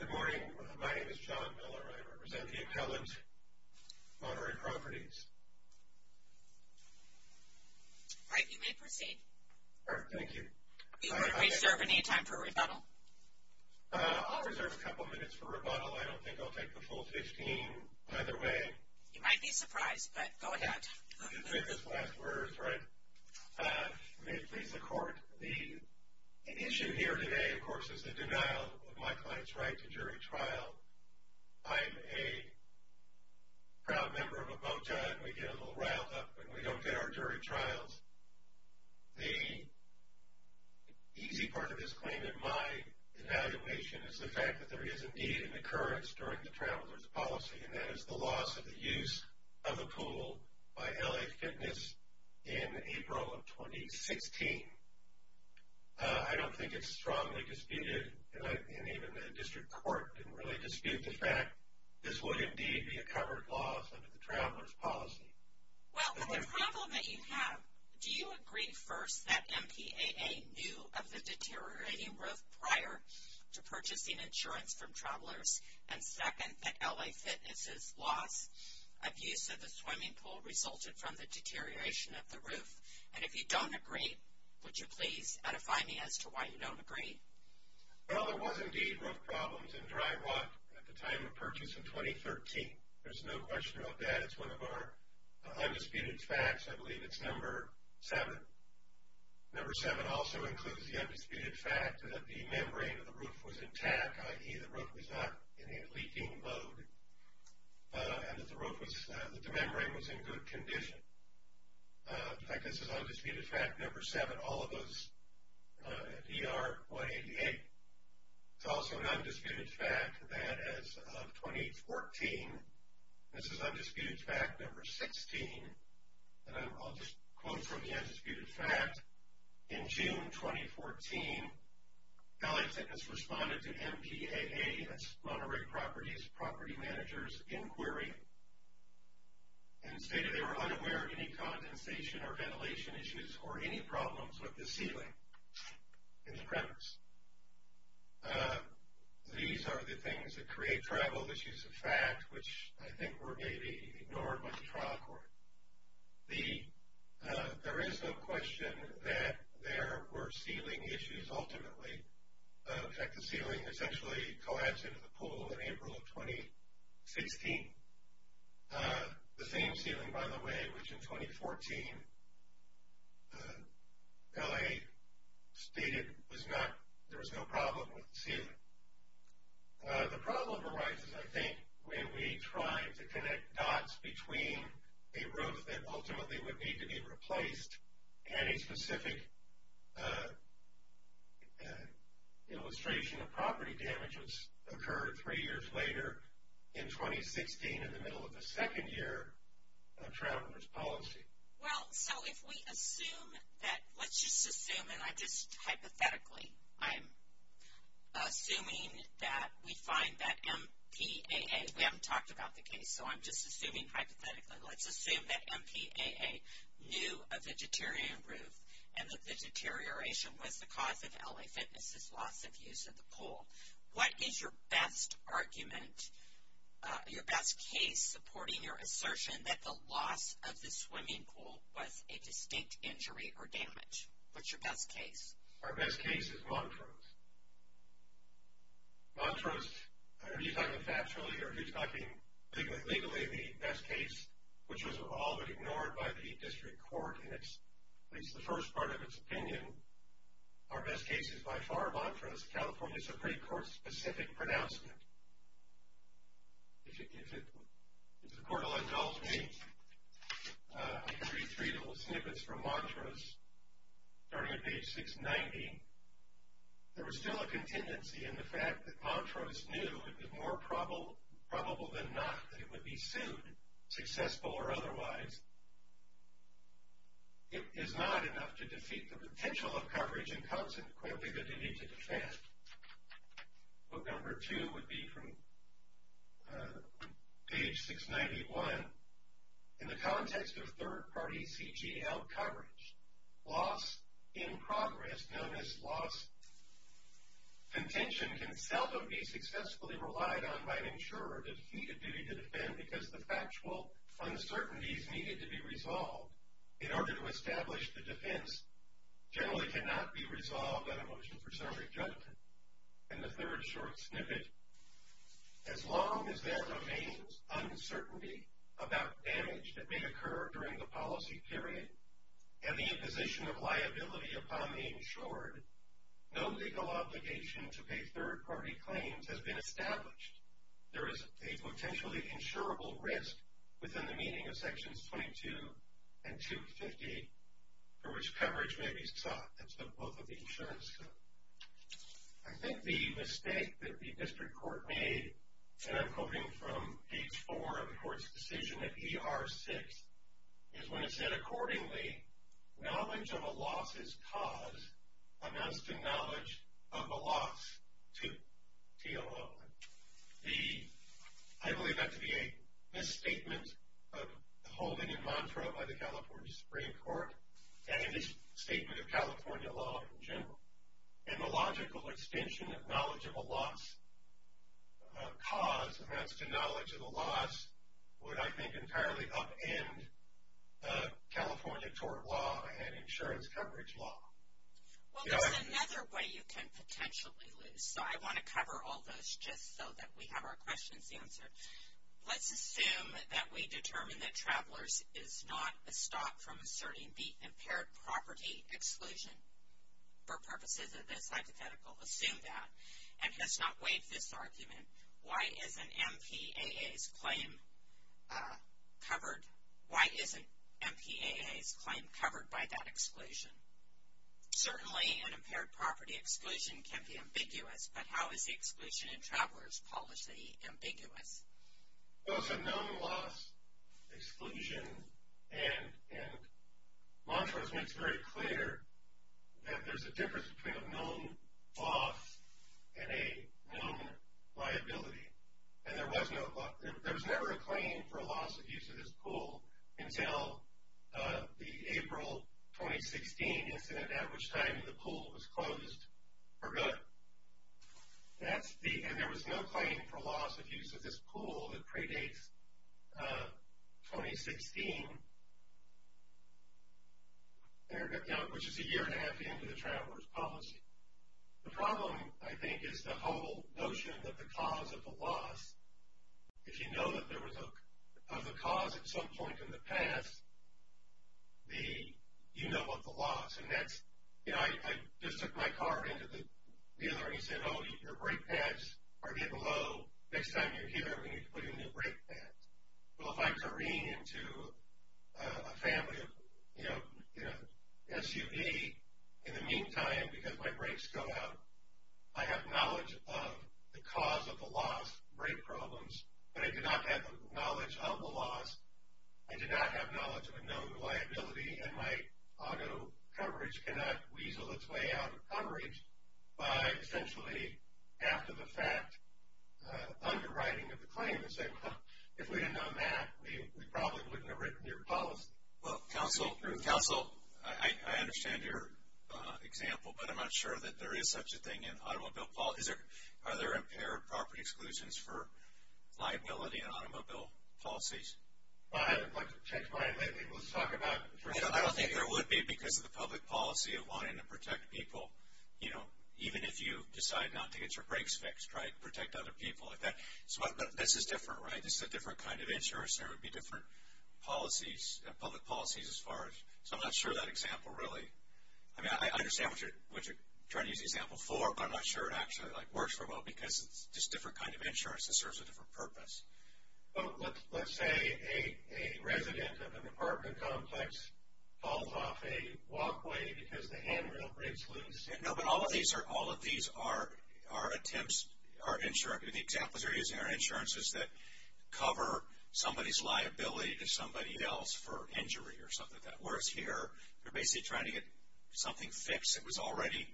Good morning. My name is John Miller. I represent the appellant, Monterey Properties. Right, you may proceed. Thank you. Do you want to reserve any time for rebuttal? I'll reserve a couple minutes for rebuttal. I don't think I'll take the full 15 either way. You might be surprised, but go ahead. I can take this last word, right? May it please the court. The issue here today, of course, is the denial of my client's right to jury trial. I'm a proud member of a mojo, and we get a little riled up when we don't get our jury trials. The easy part of this claim in my evaluation is the fact that there is indeed an occurrence during the traveler's policy, and that is the loss of the use of the pool by L.A. Fitness in April of 2016. I don't think it's strongly disputed, and even the district court didn't really dispute the fact this would indeed be a covered loss under the traveler's policy. Well, the problem that you have, do you agree, first, that MPAA knew of the deteriorating growth prior to purchasing insurance from travelers, and second, that L.A. Fitness's loss, abuse of the swimming pool resulted from the deterioration of the roof? And if you don't agree, would you please edify me as to why you don't agree? Well, there was indeed roof problems in dry walk at the time of purchase in 2013. There's no question about that. It's one of our undisputed facts. I believe it's number seven. Number seven also includes the undisputed fact that the membrane of the roof was intact, i.e. the roof was not in a leaking mode, and that the membrane was in good condition. In fact, this is undisputed fact number seven, all of those at ER 188. It's also an undisputed fact that as of 2014, this is undisputed fact number 16, and I'll just quote from the undisputed fact. In June 2014, L.A. Fitness responded to MPAA, that's Monterey Properties, Property Managers, inquiry, and stated they were unaware of any condensation or ventilation issues or any problems with the ceiling in the premise. These are the things that create tribal issues of fact, which I think were maybe ignored by the trial court. There is no question that there were ceiling issues ultimately. In fact, the ceiling essentially collapsed into the pool in April of 2016. The same ceiling, by the way, which in 2014, L.A. stated there was no problem with the ceiling. The problem arises, I think, when we try to connect dots between a roof that ultimately would need to be replaced and a specific illustration of property damages occurred three years later in 2016 in the middle of the second year of trial court's policy. Well, so if we assume that, let's just assume, and I just hypothetically, I'm assuming that we find that MPAA, we haven't talked about the case, so I'm just assuming hypothetically, let's assume that MPAA knew of the deteriorating roof and that the deterioration was the cause of L.A. Fitness's loss of use of the pool. What is your best argument, your best case supporting your assertion that the loss of the swimming pool was a distinct injury or damage? What's your best case? Our best case is Montrose. Montrose, I don't know if you're talking factually or if you're talking legally the best case, which was all but ignored by the district court in at least the first part of its opinion. Our best case is by far Montrose, California Supreme Court-specific pronouncement. If the court will indulge me, I can read three little snippets from Montrose starting at page 690. There was still a contingency in the fact that Montrose knew it was more probable than not that it would be sued, successful or otherwise. It is not enough to defeat the potential of coverage and consequently the need to defend. Book number two would be from page 691. In the context of third-party CGL coverage, loss in progress, known as loss contention, can seldom be successfully relied on by an insurer to defeat a duty to defend because the factual uncertainties needed to be resolved in order to establish the defense generally cannot be resolved on a motion for serving judgment. And the third short snippet. As long as there remains uncertainty about damage that may occur during the policy period and the imposition of liability upon the insured, no legal obligation to pay third-party claims has been established. There is a potentially insurable risk within the meaning of sections 22 and 250 for which coverage may be sought. That's the book of the insurance code. I think the mistake that the district court made, and I'm quoting from page 4 of the court's decision at ER 6, is when it said, accordingly, knowledge of a loss's cause amounts to knowledge of the loss to TLO. I believe that to be a misstatement of the holding in Montreux by the California Supreme Court and a misstatement of California law in general. And the logical extension of knowledge of a loss's cause amounts to knowledge of a loss would, I think, entirely upend California tort law and insurance coverage law. Well, there's another way you can potentially lose, so I want to cover all those just so that we have our questions answered. Let's assume that we determine that Travelers is not a stop from asserting the impaired property exclusion for purposes of this hypothetical. Assume that, and let's not waive this argument. Why isn't MPAA's claim covered by that exclusion? Certainly an impaired property exclusion can be ambiguous, but how is the exclusion in Travelers policy ambiguous? Well, it's a known loss exclusion, and Montreux makes very clear that there's a difference between a known loss and a known liability. And there was never a claim for loss of use of this pool until the April 2016 incident, at which time the pool was closed for good. And there was no claim for loss of use of this pool that predates 2016, which is a year and a half into the Travelers policy. The problem, I think, is the whole notion that the cause of the loss, if you know that there was a cause at some point in the past, you know about the loss. I just took my car into the dealer, and he said, oh, your brake pads are getting low. Next time you're here, we need to put in new brake pads. Well, if I'm turning into a family SUV, in the meantime, because my brakes go out, I have knowledge of the cause of the loss, brake problems, but I do not have the knowledge of the loss. I do not have knowledge of a known liability, and my auto coverage cannot weasel its way out of coverage by essentially, after the fact, underwriting of the claim and saying, well, if we had known that, we probably wouldn't have written your policy. Well, counsel, I understand your example, but I'm not sure that there is such a thing in automobile policy. Are there impaired property exclusions for liability in automobile policies? I haven't checked mine lately. We'll just talk about it. I don't think there would be because of the public policy of wanting to protect people. You know, even if you decide not to get your brakes fixed, try to protect other people like that. This is different, right? This is a different kind of insurance. There would be different policies, public policies as far as... So, I'm not sure that example really. I mean, I understand what you're trying to use the example for, but I'm not sure it actually, like, works very well because it's just a different kind of insurance that serves a different purpose. So, let's say a resident of an apartment complex falls off a walkway because the handrail breaks loose. No, but all of these are attempts... The examples they're using are insurances that cover somebody's liability to somebody else for injury or something like that. Whereas here, they're basically trying to get something fixed that was already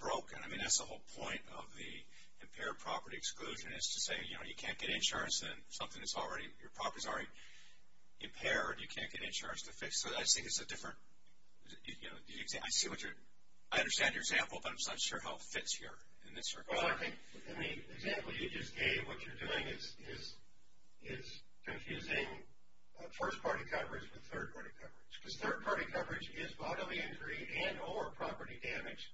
broken. I mean, that's the whole point of the impaired property exclusion is to say, you know, you can't get insurance in something that's already... Your property's already impaired. You can't get insurance to fix it. So, I think it's a different... I see what you're... I understand your example, but I'm just not sure how it fits here in this regard. Well, I think... In the example you just gave, what you're doing is confusing first-party coverage with third-party coverage because third-party coverage is bodily injury and or property damage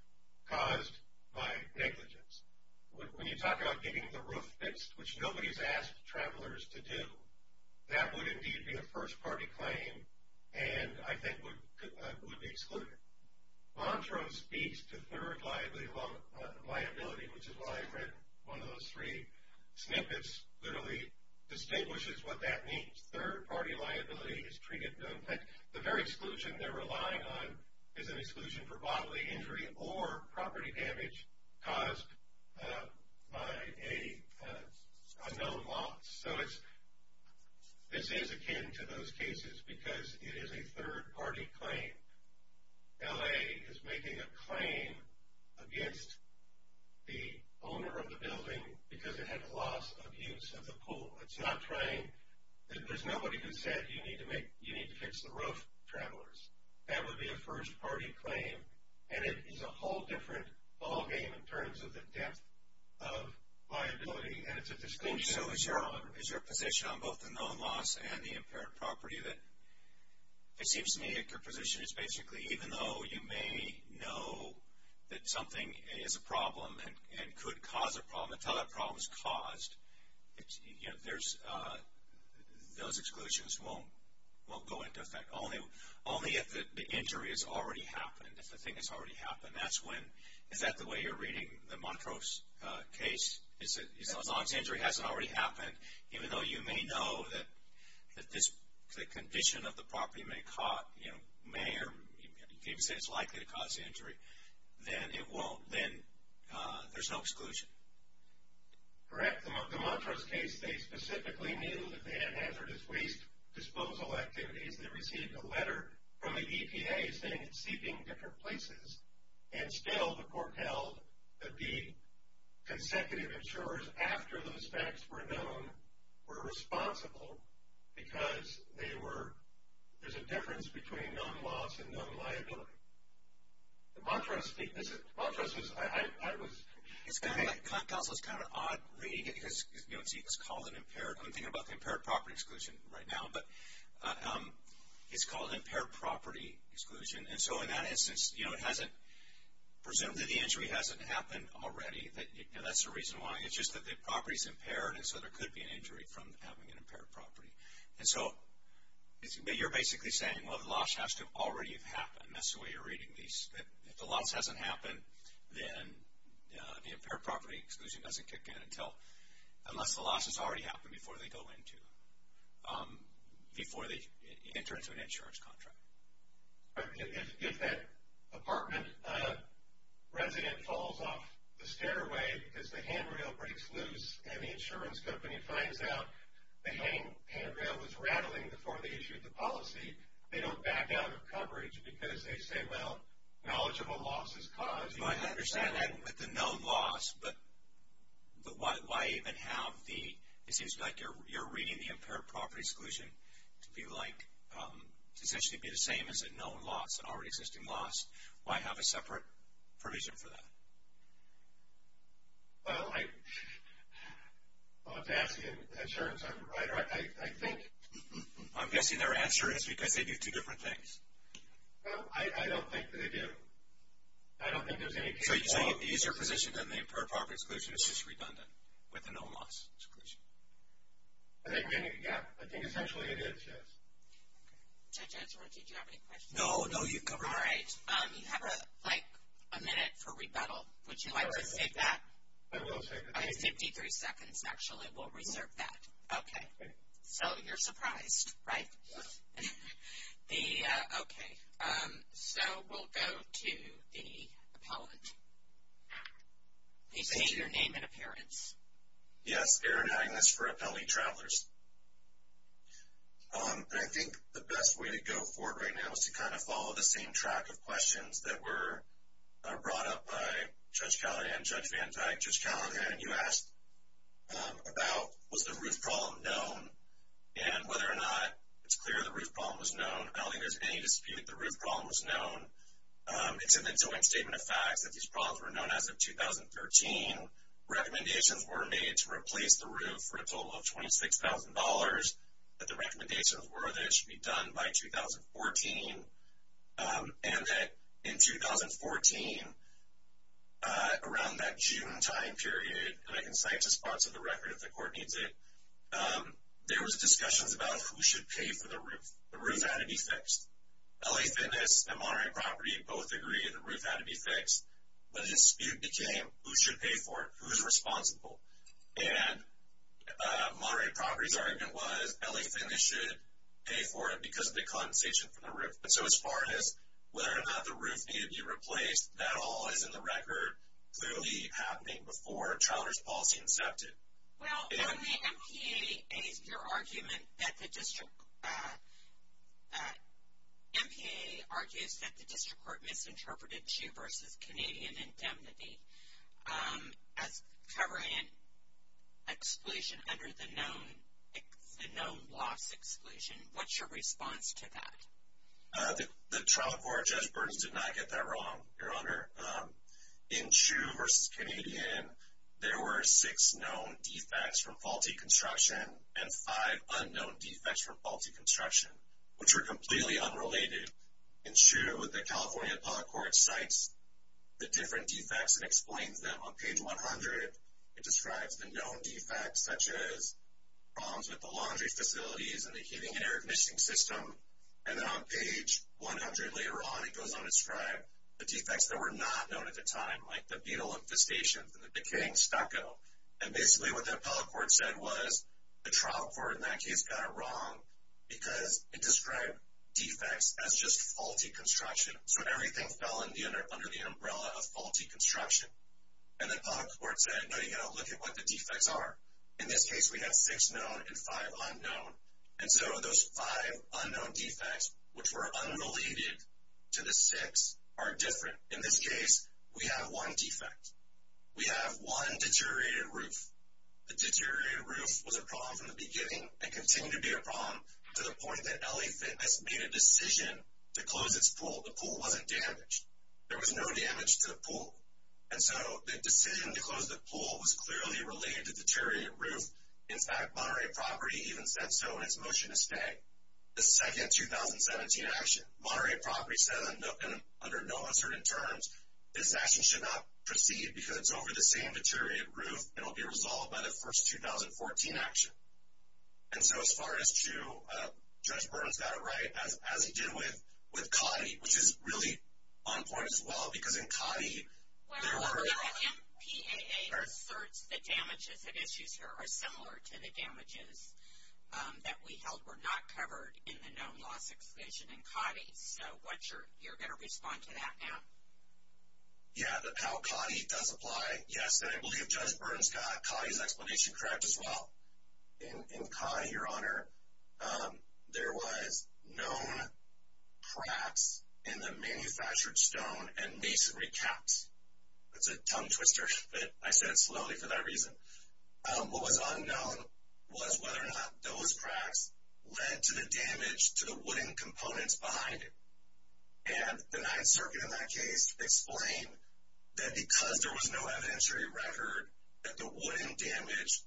caused by negligence. When you talk about getting the roof fixed, which nobody's asked travelers to do, that would indeed be a first-party claim and I think would be excluded. Montrose speaks to third liability, which is why I've read one of those three snippets, literally, distinguishes what that means. Third-party liability is treated... In fact, the very exclusion they're relying on is an exclusion for bodily injury or property damage caused by a known loss. So, this is akin to those cases because it is a third-party claim. L.A. is making a claim against the owner of the building because it had a loss of use of the pool. It's not trying... There's nobody who said you need to fix the roof, travelers. That would be a first-party claim, and it is a whole different ballgame in terms of the depth of liability, and it's a disclosure. So, is your position on both the known loss and the impaired property that it seems to me that your position is basically even though you may know that something is a problem and could cause a problem until that problem is caused, those exclusions won't go into effect, only if the injury has already happened, if the thing has already happened. Is that the way you're reading the Montrose case? As long as the injury hasn't already happened, even though you may know that the condition of the property may or may not be likely to cause injury, then there's no exclusion. Correct. The Montrose case, they specifically knew that they had hazardous waste disposal activities. They received a letter from the EPA saying it's seeping different places, and still the court held that the consecutive insurers after those facts were known were responsible because there's a difference between known loss and known liability. The Montrose case, Montrose was, I was... It's kind of like, counsel, it's kind of an odd reading because, you know, it's called an impaired, I'm thinking about the impaired property exclusion right now, but it's called impaired property exclusion. And so, in that instance, you know, it hasn't, presumably the injury hasn't happened already. That's the reason why. It's just that the property's impaired, and so there could be an injury from having an impaired property. And so, you're basically saying, well, the loss has to have already happened. And that's the way you're reading these. If the loss hasn't happened, then the impaired property exclusion doesn't kick in until, unless the loss has already happened before they go into, before they enter into an insurance contract. If that apartment resident falls off the stairway because the handrail breaks loose and the insurance company finds out the handrail was rattling before they issued the policy, they don't back out of coverage because they say, well, knowledgeable loss is caused. You might understand that with the known loss, but why even have the, it seems like you're reading the impaired property exclusion to be like, to essentially be the same as a known loss, an already existing loss. Why have a separate provision for that? Well, I, I'll have to ask the insurance provider. I think, I'm guessing their answer is because they do two different things. Well, I don't think that they do. I don't think there's any case of. So, you're saying an easier position than the impaired property exclusion is just redundant with a known loss exclusion? I think, yeah, I think essentially it is, yes. Judge, I just wanted to make sure, do you have any questions? No, no, you've covered everything. All right, you have like a minute for rebuttal. Would you like to save that? I will save it. I have 53 seconds, actually. We'll reserve that. Okay. So, you're surprised, right? Yes. The, okay. So, we'll go to the appellant. Please state your name and appearance. Yes, Aaron Agnes for Appellee Travelers. I think the best way to go forward right now is to kind of follow the same track of questions that were brought up by Judge Callahan, and you asked about was the roof problem known, and whether or not it's clear the roof problem was known. I don't think there's any dispute the roof problem was known. It's in the joint statement of facts that these problems were known as of 2013. Recommendations were made to replace the roof for a total of $26,000, that the recommendations were that it should be done by 2014, and that in 2014, around that June time period, and I can cite just parts of the record if the court needs it, there was discussions about who should pay for the roof. The roof had to be fixed. LA Fitness and Monterey Property both agreed the roof had to be fixed. But a dispute became who should pay for it, who's responsible. And Monterey Property's argument was LA Fitness should pay for it because of the condensation from the roof. So as far as whether or not the roof needed to be replaced, that all is in the record, clearly happening before Children's Policy incepted. Well, on the MPA, your argument that the district, MPA argues that the district court misinterpreted CHU versus Canadian indemnity as covering an exclusion under the known loss exclusion. What's your response to that? The trial court, Judge Burns, did not get that wrong, Your Honor. In CHU versus Canadian, there were six known defects from faulty construction and five unknown defects from faulty construction, which were completely unrelated. In CHU, the California Public Court cites the different defects and explains them. On page 100, it describes the known defects, such as problems with the laundry facilities and the heating and air conditioning system. And then on page 100 later on, it goes on to describe the defects that were not known at the time, like the beetle infestations and the decaying stucco. And basically what the appellate court said was the trial court in that case got it wrong because it described defects as just faulty construction. So everything fell under the umbrella of faulty construction. And the appellate court said, no, you've got to look at what the defects are. In this case, we have six known and five unknown. And so those five unknown defects, which were unrelated to the six, are different. In this case, we have one defect. We have one deteriorated roof. The deteriorated roof was a problem from the beginning and continued to be a problem to the point that LA Fitness made a decision to close its pool. The pool wasn't damaged. There was no damage to the pool. And so the decision to close the pool was clearly related to deteriorated roof. In fact, Monterey Property even said so in its motion to stay. The second 2017 action, Monterey Property said under no uncertain terms, this action should not proceed because it's over the same deteriorated roof and will be resolved by the first 2014 action. And so as far as true, Judge Burns got it right, as he did with CAUTI, which is really on point as well because in CAUTI there were – similar to the damages that we held were not covered in the known loss explanation in CAUTI. So what's your – you're going to respond to that now? Yeah, how CAUTI does apply. Yes, and I believe Judge Burns got CAUTI's explanation correct as well. In CAUTI, Your Honor, there was known cracks in the manufactured stone and masonry caps. That's a tongue twister, but I said it slowly for that reason. What was unknown was whether or not those cracks led to the damage to the wooden components behind it. And the Ninth Circuit in that case explained that because there was no evidentiary record that the wooden damage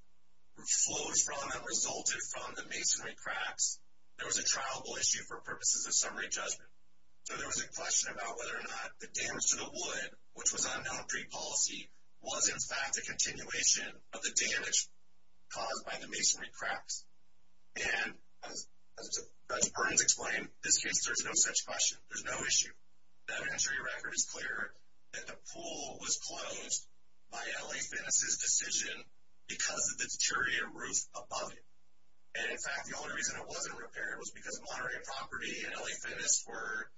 flows from and resulted from the masonry cracks, there was a trialable issue for purposes of summary judgment. So there was a question about whether or not the damage to the wood, which was unknown pre-policy, was in fact a continuation of the damage caused by the masonry cracks. And as Judge Burns explained, in this case there's no such question. There's no issue. The evidentiary record is clear that the pool was closed by LA Fitness's decision because of the deteriorated roof above it. And, in fact, the only reason it wasn't repaired was because of moderate property, and LA Fitness were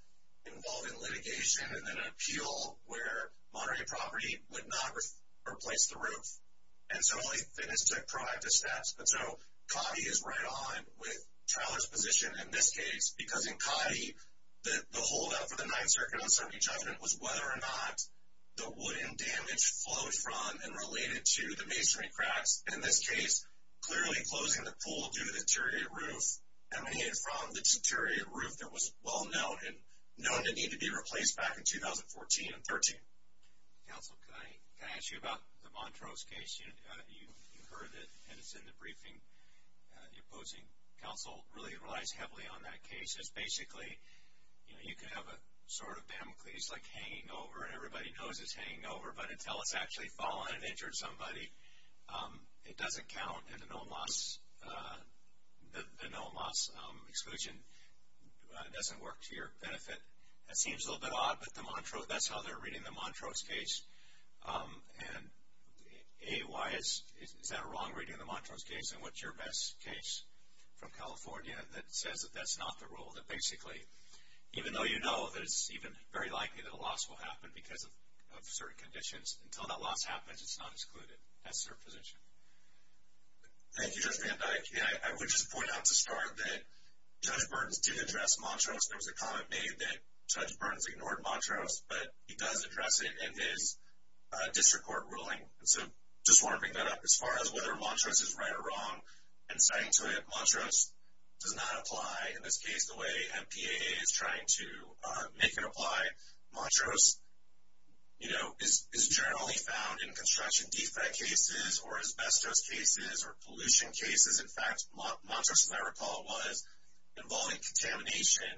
involved in litigation and then an appeal where moderate property would not replace the roof. And so LA Fitness took proactive steps. And so Coddy is right on with Trowler's position in this case because in Coddy, the holdup for the Ninth Circuit on summary judgment was whether or not the wooden damage flowed from and related to the masonry cracks. In this case, clearly closing the pool due to the deteriorated roof emanated from the deteriorated roof that was well known and known to need to be replaced back in 2014 and 13. Counsel, can I ask you about the Montrose case? You heard it, and it's in the briefing. The opposing counsel really relies heavily on that case. It's basically, you know, you can have a sort of damocles like hanging over, and everybody knows it's hanging over. But until it's actually fallen and injured somebody, it doesn't count, and the no-loss exclusion doesn't work to your benefit. That seems a little bit odd, but that's how they're reading the Montrose case. And A, why is that a wrong reading of the Montrose case, and what's your best case from California that says that that's not the rule, that basically even though you know that it's even very likely that a loss will happen because of certain conditions, until that loss happens, it's not excluded. That's their position. Thank you, Judge Van Dyke. And I would just point out to start that Judge Burns did address Montrose. There was a comment made that Judge Burns ignored Montrose, but he does address it in his district court ruling. And so I just want to bring that up as far as whether Montrose is right or wrong. And citing to it, Montrose does not apply. In this case, the way MPAA is trying to make it apply, Montrose is generally found in construction defect cases or asbestos cases or pollution cases. In fact, Montrose, as I recall, was involving contamination,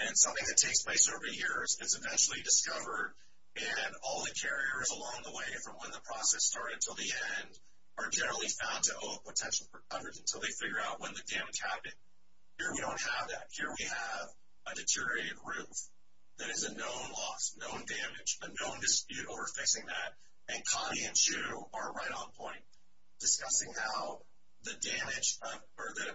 and something that takes place over the years. It's eventually discovered, and all the carriers along the way, from when the process started until the end, are generally found to owe a potential for coverage until they figure out when the damage happened. Here we don't have that. Here we have a deteriorated roof that is a known loss, known damage, a known dispute over fixing that. And Connie and Shu are right on point discussing how the damage, or the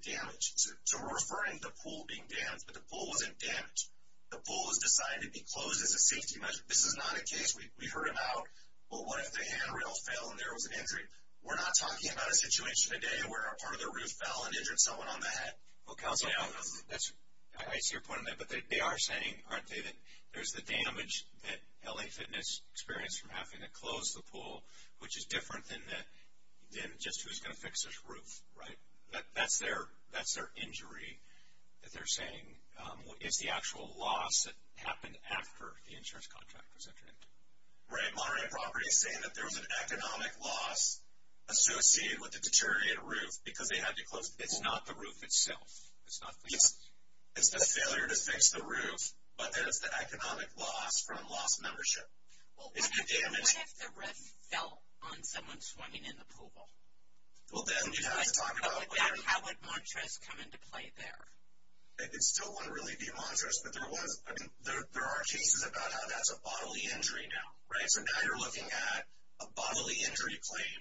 damage. So we're referring to the pool being damaged, but the pool wasn't damaged. The pool was decided to be closed as a safety measure. This is not a case we heard about. Well, what if the handrail fell and there was an injury? We're not talking about a situation today where a part of the roof fell and injured someone on the head. I see your point on that, but they are saying, aren't they, that there's the damage that LA Fitness experienced from having to close the pool, which is different than just who's going to fix this roof, right? That's their injury that they're saying is the actual loss that happened after the insurance contract was entered into. Right. Monterey Property is saying that there was an economic loss associated with the deteriorated roof because they had to close the pool. It's not the roof itself. It's not the roof. It's the failure to fix the roof, but there's the economic loss from lost membership. Well, what if the roof fell on someone swimming in the pool? Well, then you'd have to talk about it. How would Montress come into play there? I still wouldn't really be Montress, but there are cases about how that's a bodily injury now, right? So now you're looking at a bodily injury claim,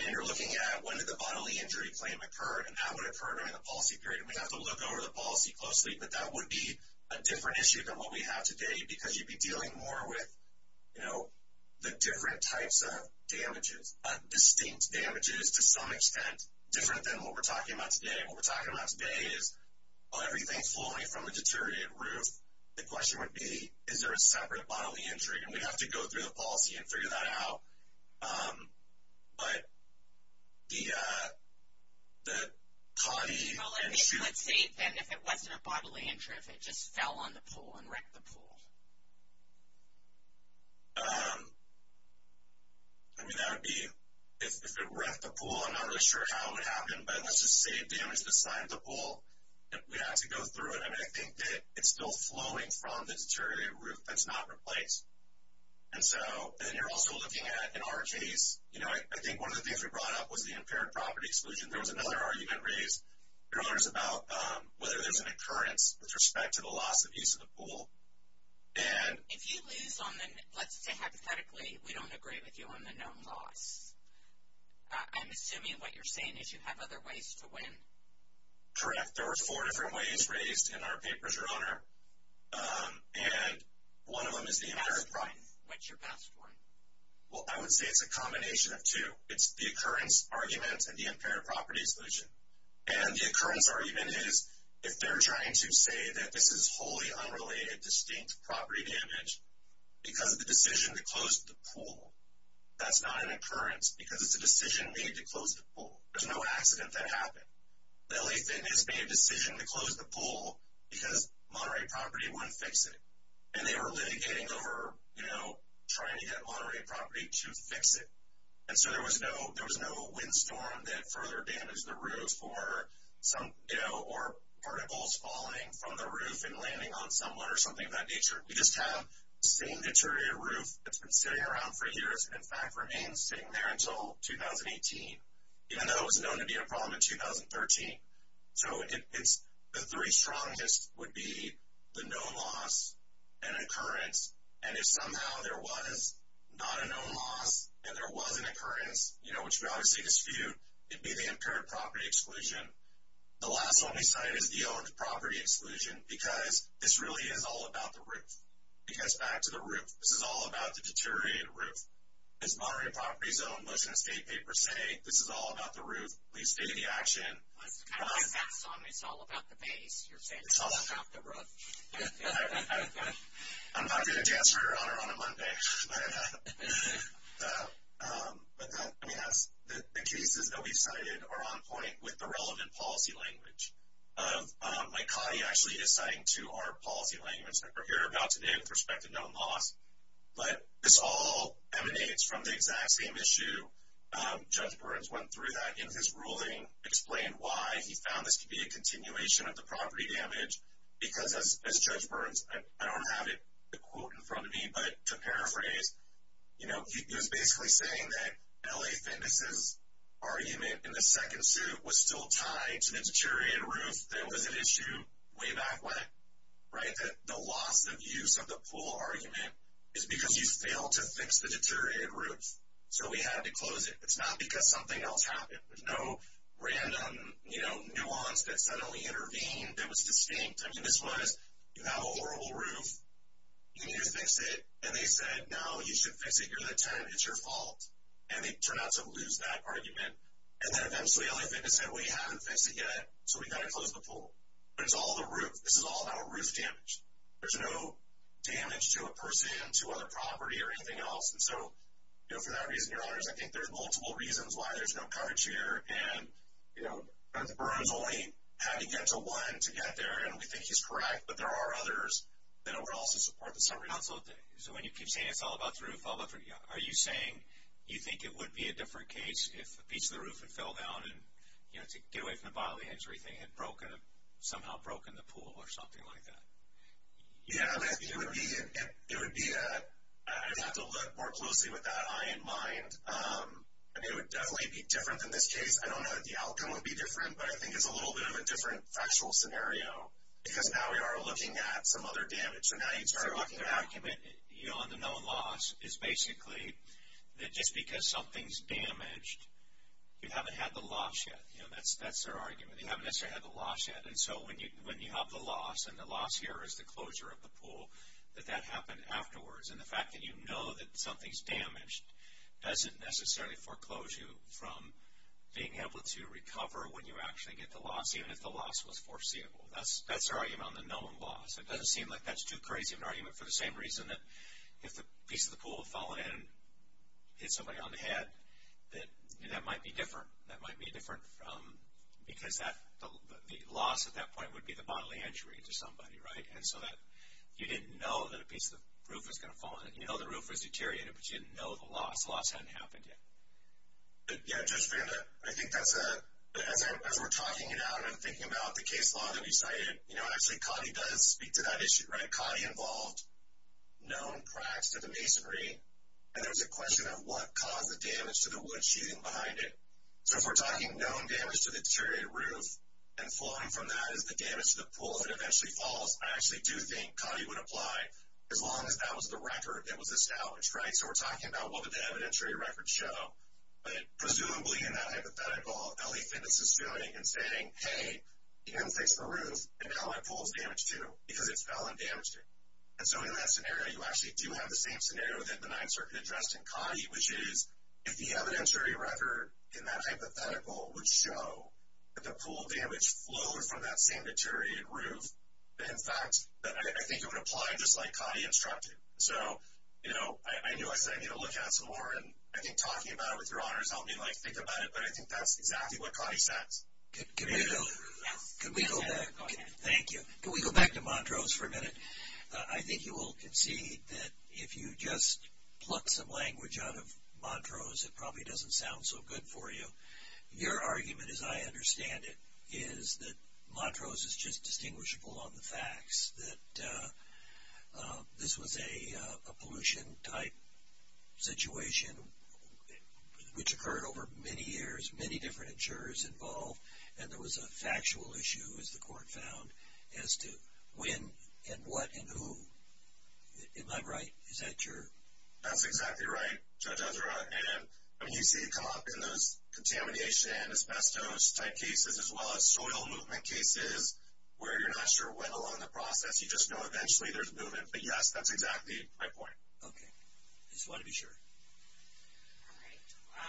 and you're looking at when did the bodily injury claim occur and how it would occur during the policy period. We'd have to look over the policy closely, but that would be a different issue than what we have today because you'd be dealing more with the different types of damages, distinct damages, to some extent, different than what we're talking about today. What we're talking about today is, well, everything's falling from a deteriorated roof. The question would be, is there a separate bodily injury? And we'd have to go through the policy and figure that out. But the CAUTI issue. Well, let's say then if it wasn't a bodily injury, if it just fell on the pool and wrecked the pool. I mean, that would be if it wrecked the pool. I'm not really sure how it would happen, but let's just say it damaged the side of the pool. We'd have to go through it. I mean, I think that it's still flowing from the deteriorated roof. That's not replaced. And so then you're also looking at, in our case, you know, I think one of the things we brought up was the impaired property exclusion. There was another argument raised earlier about whether there's an occurrence with respect to the loss of use of the pool. And if you lose on the, let's say, hypothetically, we don't agree with you on the known loss. I'm assuming what you're saying is you have other ways to win. Correct. There were four different ways raised in our papers, Your Honor. And one of them is the impaired property. What's your best one? Well, I would say it's a combination of two. It's the occurrence argument and the impaired property exclusion. And the occurrence argument is if they're trying to say that this is wholly unrelated distinct property damage because of the decision to close the pool. That's not an occurrence because it's a decision made to close the pool. There's no accident that happened. LA Fitness made a decision to close the pool because Monterey Property wouldn't fix it. And they were litigating over, you know, trying to get Monterey Property to fix it. And so there was no windstorm that further damaged the roof or, you know, or particles falling from the roof and landing on someone or something of that nature. We just have the same deteriorated roof that's been sitting around for years and, in fact, remains sitting there until 2018, even though it was known to be a problem in 2013. So the three strongest would be the known loss and occurrence. And if somehow there was not a known loss and there was an occurrence, you know, which we obviously dispute, it'd be the impaired property exclusion. The last one we cited is the owned property exclusion because this really is all about the roof. It gets back to the roof. This is all about the deteriorated roof. As Monterey Property's own motion escape paper say, this is all about the roof. Please stay the action. It's kind of like that song, It's All About the Base. You're saying it's all about the roof. I'm not going to dance harder on a Monday. Let me ask. The cases that we cited are on point with the relevant policy language. Mike Cotty actually is citing to our policy language. We're here about today with respect to known loss. But this all emanates from the exact same issue. Judge Burns went through that. In his ruling, explained why he found this to be a continuation of the property damage because, as Judge Burns, I don't have the quote in front of me, but to paraphrase, you know, he was basically saying that LA Fitness's argument in the second suit was still tied to the deteriorated roof. That was an issue way back when, right? That the loss of use of the pool argument is because you failed to fix the deteriorated roof. So we had to close it. It's not because something else happened. There's no random nuance that suddenly intervened that was distinct. I mean, this was, you have a horrible roof. You need to fix it. And they said, no, you should fix it. You're the tenant. It's your fault. And they turned out to lose that argument. And then eventually LA Fitness said, we haven't fixed it yet, so we've got to close the pool. But it's all the roof. This is all about roof damage. There's no damage to a person, to other property, or anything else. And so, you know, for that reason, Your Honors, I think there's multiple reasons why there's no coverage here. And, you know, Judge Burns only had to get to one to get there, and we think he's correct. But there are others that also support the summary. So when you keep saying it's all about the roof, are you saying you think it would be a different case if a piece of the roof had fell down and, you know, to get away from the bodily injury thing had somehow broken the pool or something like that? Yeah. It would be a, I'd have to look more closely with that eye in mind. It would definitely be different than this case. I don't know that the outcome would be different, but I think it's a little bit of a different factual scenario. Because now we are looking at some other damage. The argument, you know, on the known loss is basically that just because something's damaged, you haven't had the loss yet. You know, that's their argument. They haven't necessarily had the loss yet. And so when you have the loss, and the loss here is the closure of the pool, that that happened afterwards. And the fact that you know that something's damaged doesn't necessarily foreclose you from being able to recover when you actually get the loss, even if the loss was foreseeable. That's their argument on the known loss. It doesn't seem like that's too crazy of an argument for the same reason that if a piece of the pool had fallen in and hit somebody on the head, that that might be different. That might be different because the loss at that point would be the bodily injury to somebody, right? And so you didn't know that a piece of the roof was going to fall in. You know the roof was deteriorated, but you didn't know the loss. The loss hadn't happened yet. Yeah, Judge Vanda, I think that's a, as we're talking it out and thinking about the case law that we cited, you know, I think to that issue, right, Cotty involved known cracks to the masonry, and there was a question of what caused the damage to the wood sheathing behind it. So if we're talking known damage to the deteriorated roof and flowing from that as the damage to the pool that eventually falls, I actually do think Cotty would apply as long as that was the record, it was established, right? So we're talking about what did the evidentiary records show. But presumably in that hypothetical, Ellie Fitness is feeling and saying, hey, you didn't fix the roof, and now my pool is damaged too because it fell and damaged it. And so in that scenario, you actually do have the same scenario within the Ninth Circuit addressed in Cotty, which is if the evidentiary record in that hypothetical would show that the pool damage flowed from that same deteriorated roof, in fact, I think it would apply just like Cotty instructed. So, you know, I knew I said I needed to look at it some more, and I think talking about it with your honors helped me like think about it, but I think that's exactly what Cotty said. Can we go back? Thank you. Can we go back to Montrose for a minute? I think you will concede that if you just pluck some language out of Montrose, it probably doesn't sound so good for you. Your argument, as I understand it, is that Montrose is just distinguishable on the facts, that this was a pollution-type situation, which occurred over many years, many different insurers involved, and there was a factual issue, as the court found, as to when and what and who. Am I right? Is that true? That's exactly right, Judge Ezra. And you see it come up in those contamination, asbestos-type cases, as well as soil movement cases where you're not sure when along the process, you just know eventually there's movement. But, yes, that's exactly my point. Okay. I just want to be sure. All right.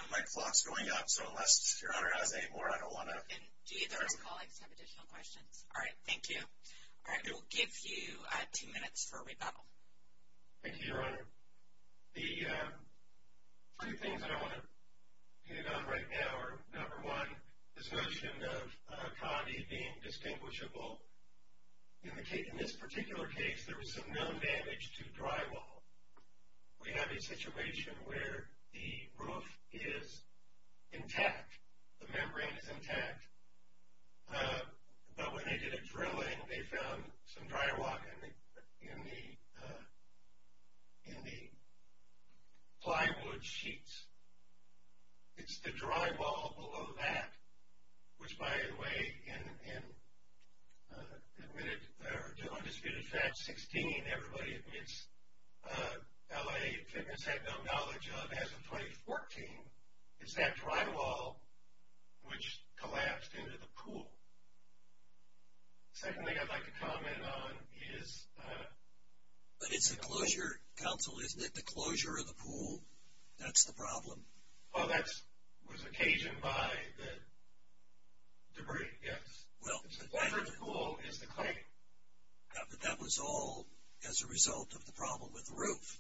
My clock's going up, so unless Your Honor has any more, I don't want to. And do either of our colleagues have additional questions? All right. Thank you. All right. We'll give you two minutes for rebuttal. Thank you, Your Honor. The two things that I want to hit on right now are, number one, this notion of condi being distinguishable. In this particular case, there was some known damage to drywall. We have a situation where the roof is intact. The membrane is intact. But when they did a drilling, they found some drywalk in the plywood sheets. It's the drywall below that, which, by the way, in Undisputed Facts 16, everybody admits L.A. Fitness had no knowledge of. As of 2014, it's that drywall which collapsed into the pool. Secondly, I'd like to comment on is the closure. But it's the closure, counsel, isn't it? The closure of the pool, that's the problem. Well, that was occasioned by the debris, yes. The closure of the pool is the claim. But that was all as a result of the problem with the roof.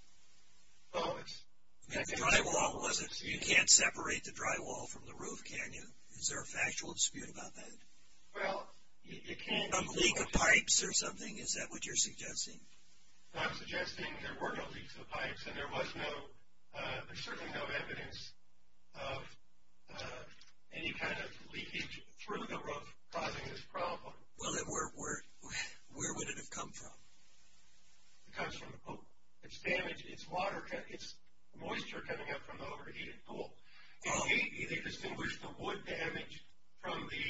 The drywall wasn't. You can't separate the drywall from the roof, can you? Is there a factual dispute about that? A leak of pipes or something, is that what you're suggesting? I'm suggesting there were no leaks of pipes, and there was certainly no evidence of any kind of leakage through the roof causing this problem. Well, then where would it have come from? It comes from the pool. It's moisture coming up from the overheated pool. They distinguished the wood damage from the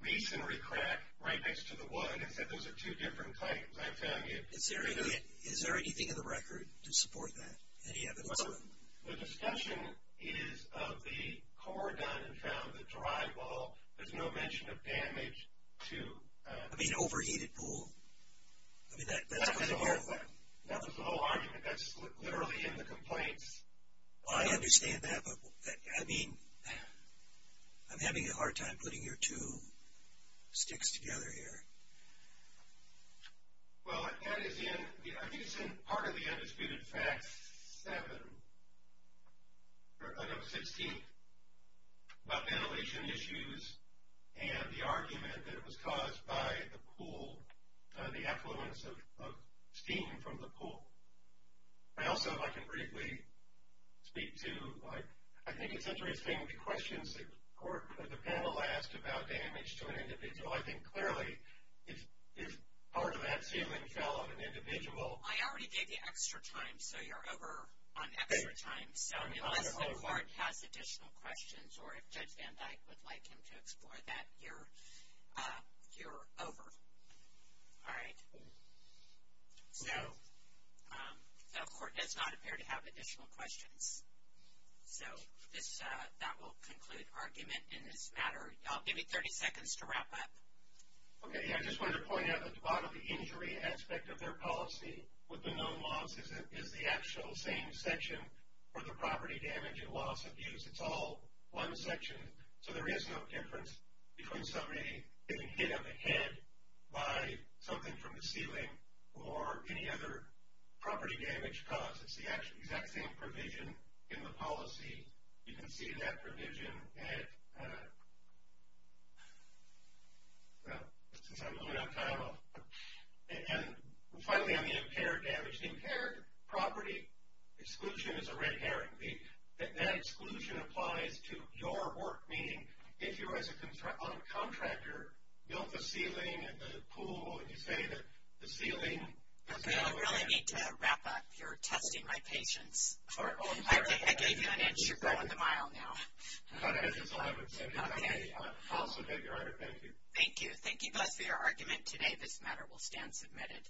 reasonary crack right next to the wood and said those are two different types. I found it. Is there anything in the record to support that, any evidence of it? The discussion is of the core done and found, the drywall. There's no mention of damage to the overheated pool. That was the whole argument. That's literally in the complaints. I understand that, but I'm having a hard time putting your two sticks together here. Well, I think it's in part of the Undisputed Facts 7, I know it's 16th, about ventilation issues and the argument that it was caused by the pool, the effluence of steam from the pool. I also, if I can briefly speak to, I think it's interesting the questions that the panel asked about damage to an individual. I think clearly if part of that ceiling fell on an individual. I already gave you extra time, so you're over on extra time. Unless the court has additional questions or if Judge Van Dyke would like him to explore that, you're over. All right. So the court does not appear to have additional questions. So that will conclude argument in this matter. I'll give you 30 seconds to wrap up. Okay. I just wanted to point out that the bodily injury aspect of their policy with the known loss is the actual same section for the property damage and loss of use. It's all one section. So there is no difference between somebody getting hit on the head by something from the ceiling or any other property damage cause. It's the exact same provision in the policy. You can see that provision at, well, since I'm running out of time, I'll. And finally, on the impaired damage, the impaired property exclusion is a red herring. That exclusion applies to your work, meaning if you as a contractor built the ceiling at the pool and you say that the ceiling is now damaged. Okay, I really need to wrap up. You're testing my patience. I gave you an inch. You're going the mile now. Okay. I'll submit your argument. Thank you. Thank you. Thank you both for your argument today. This matter will stand submitted.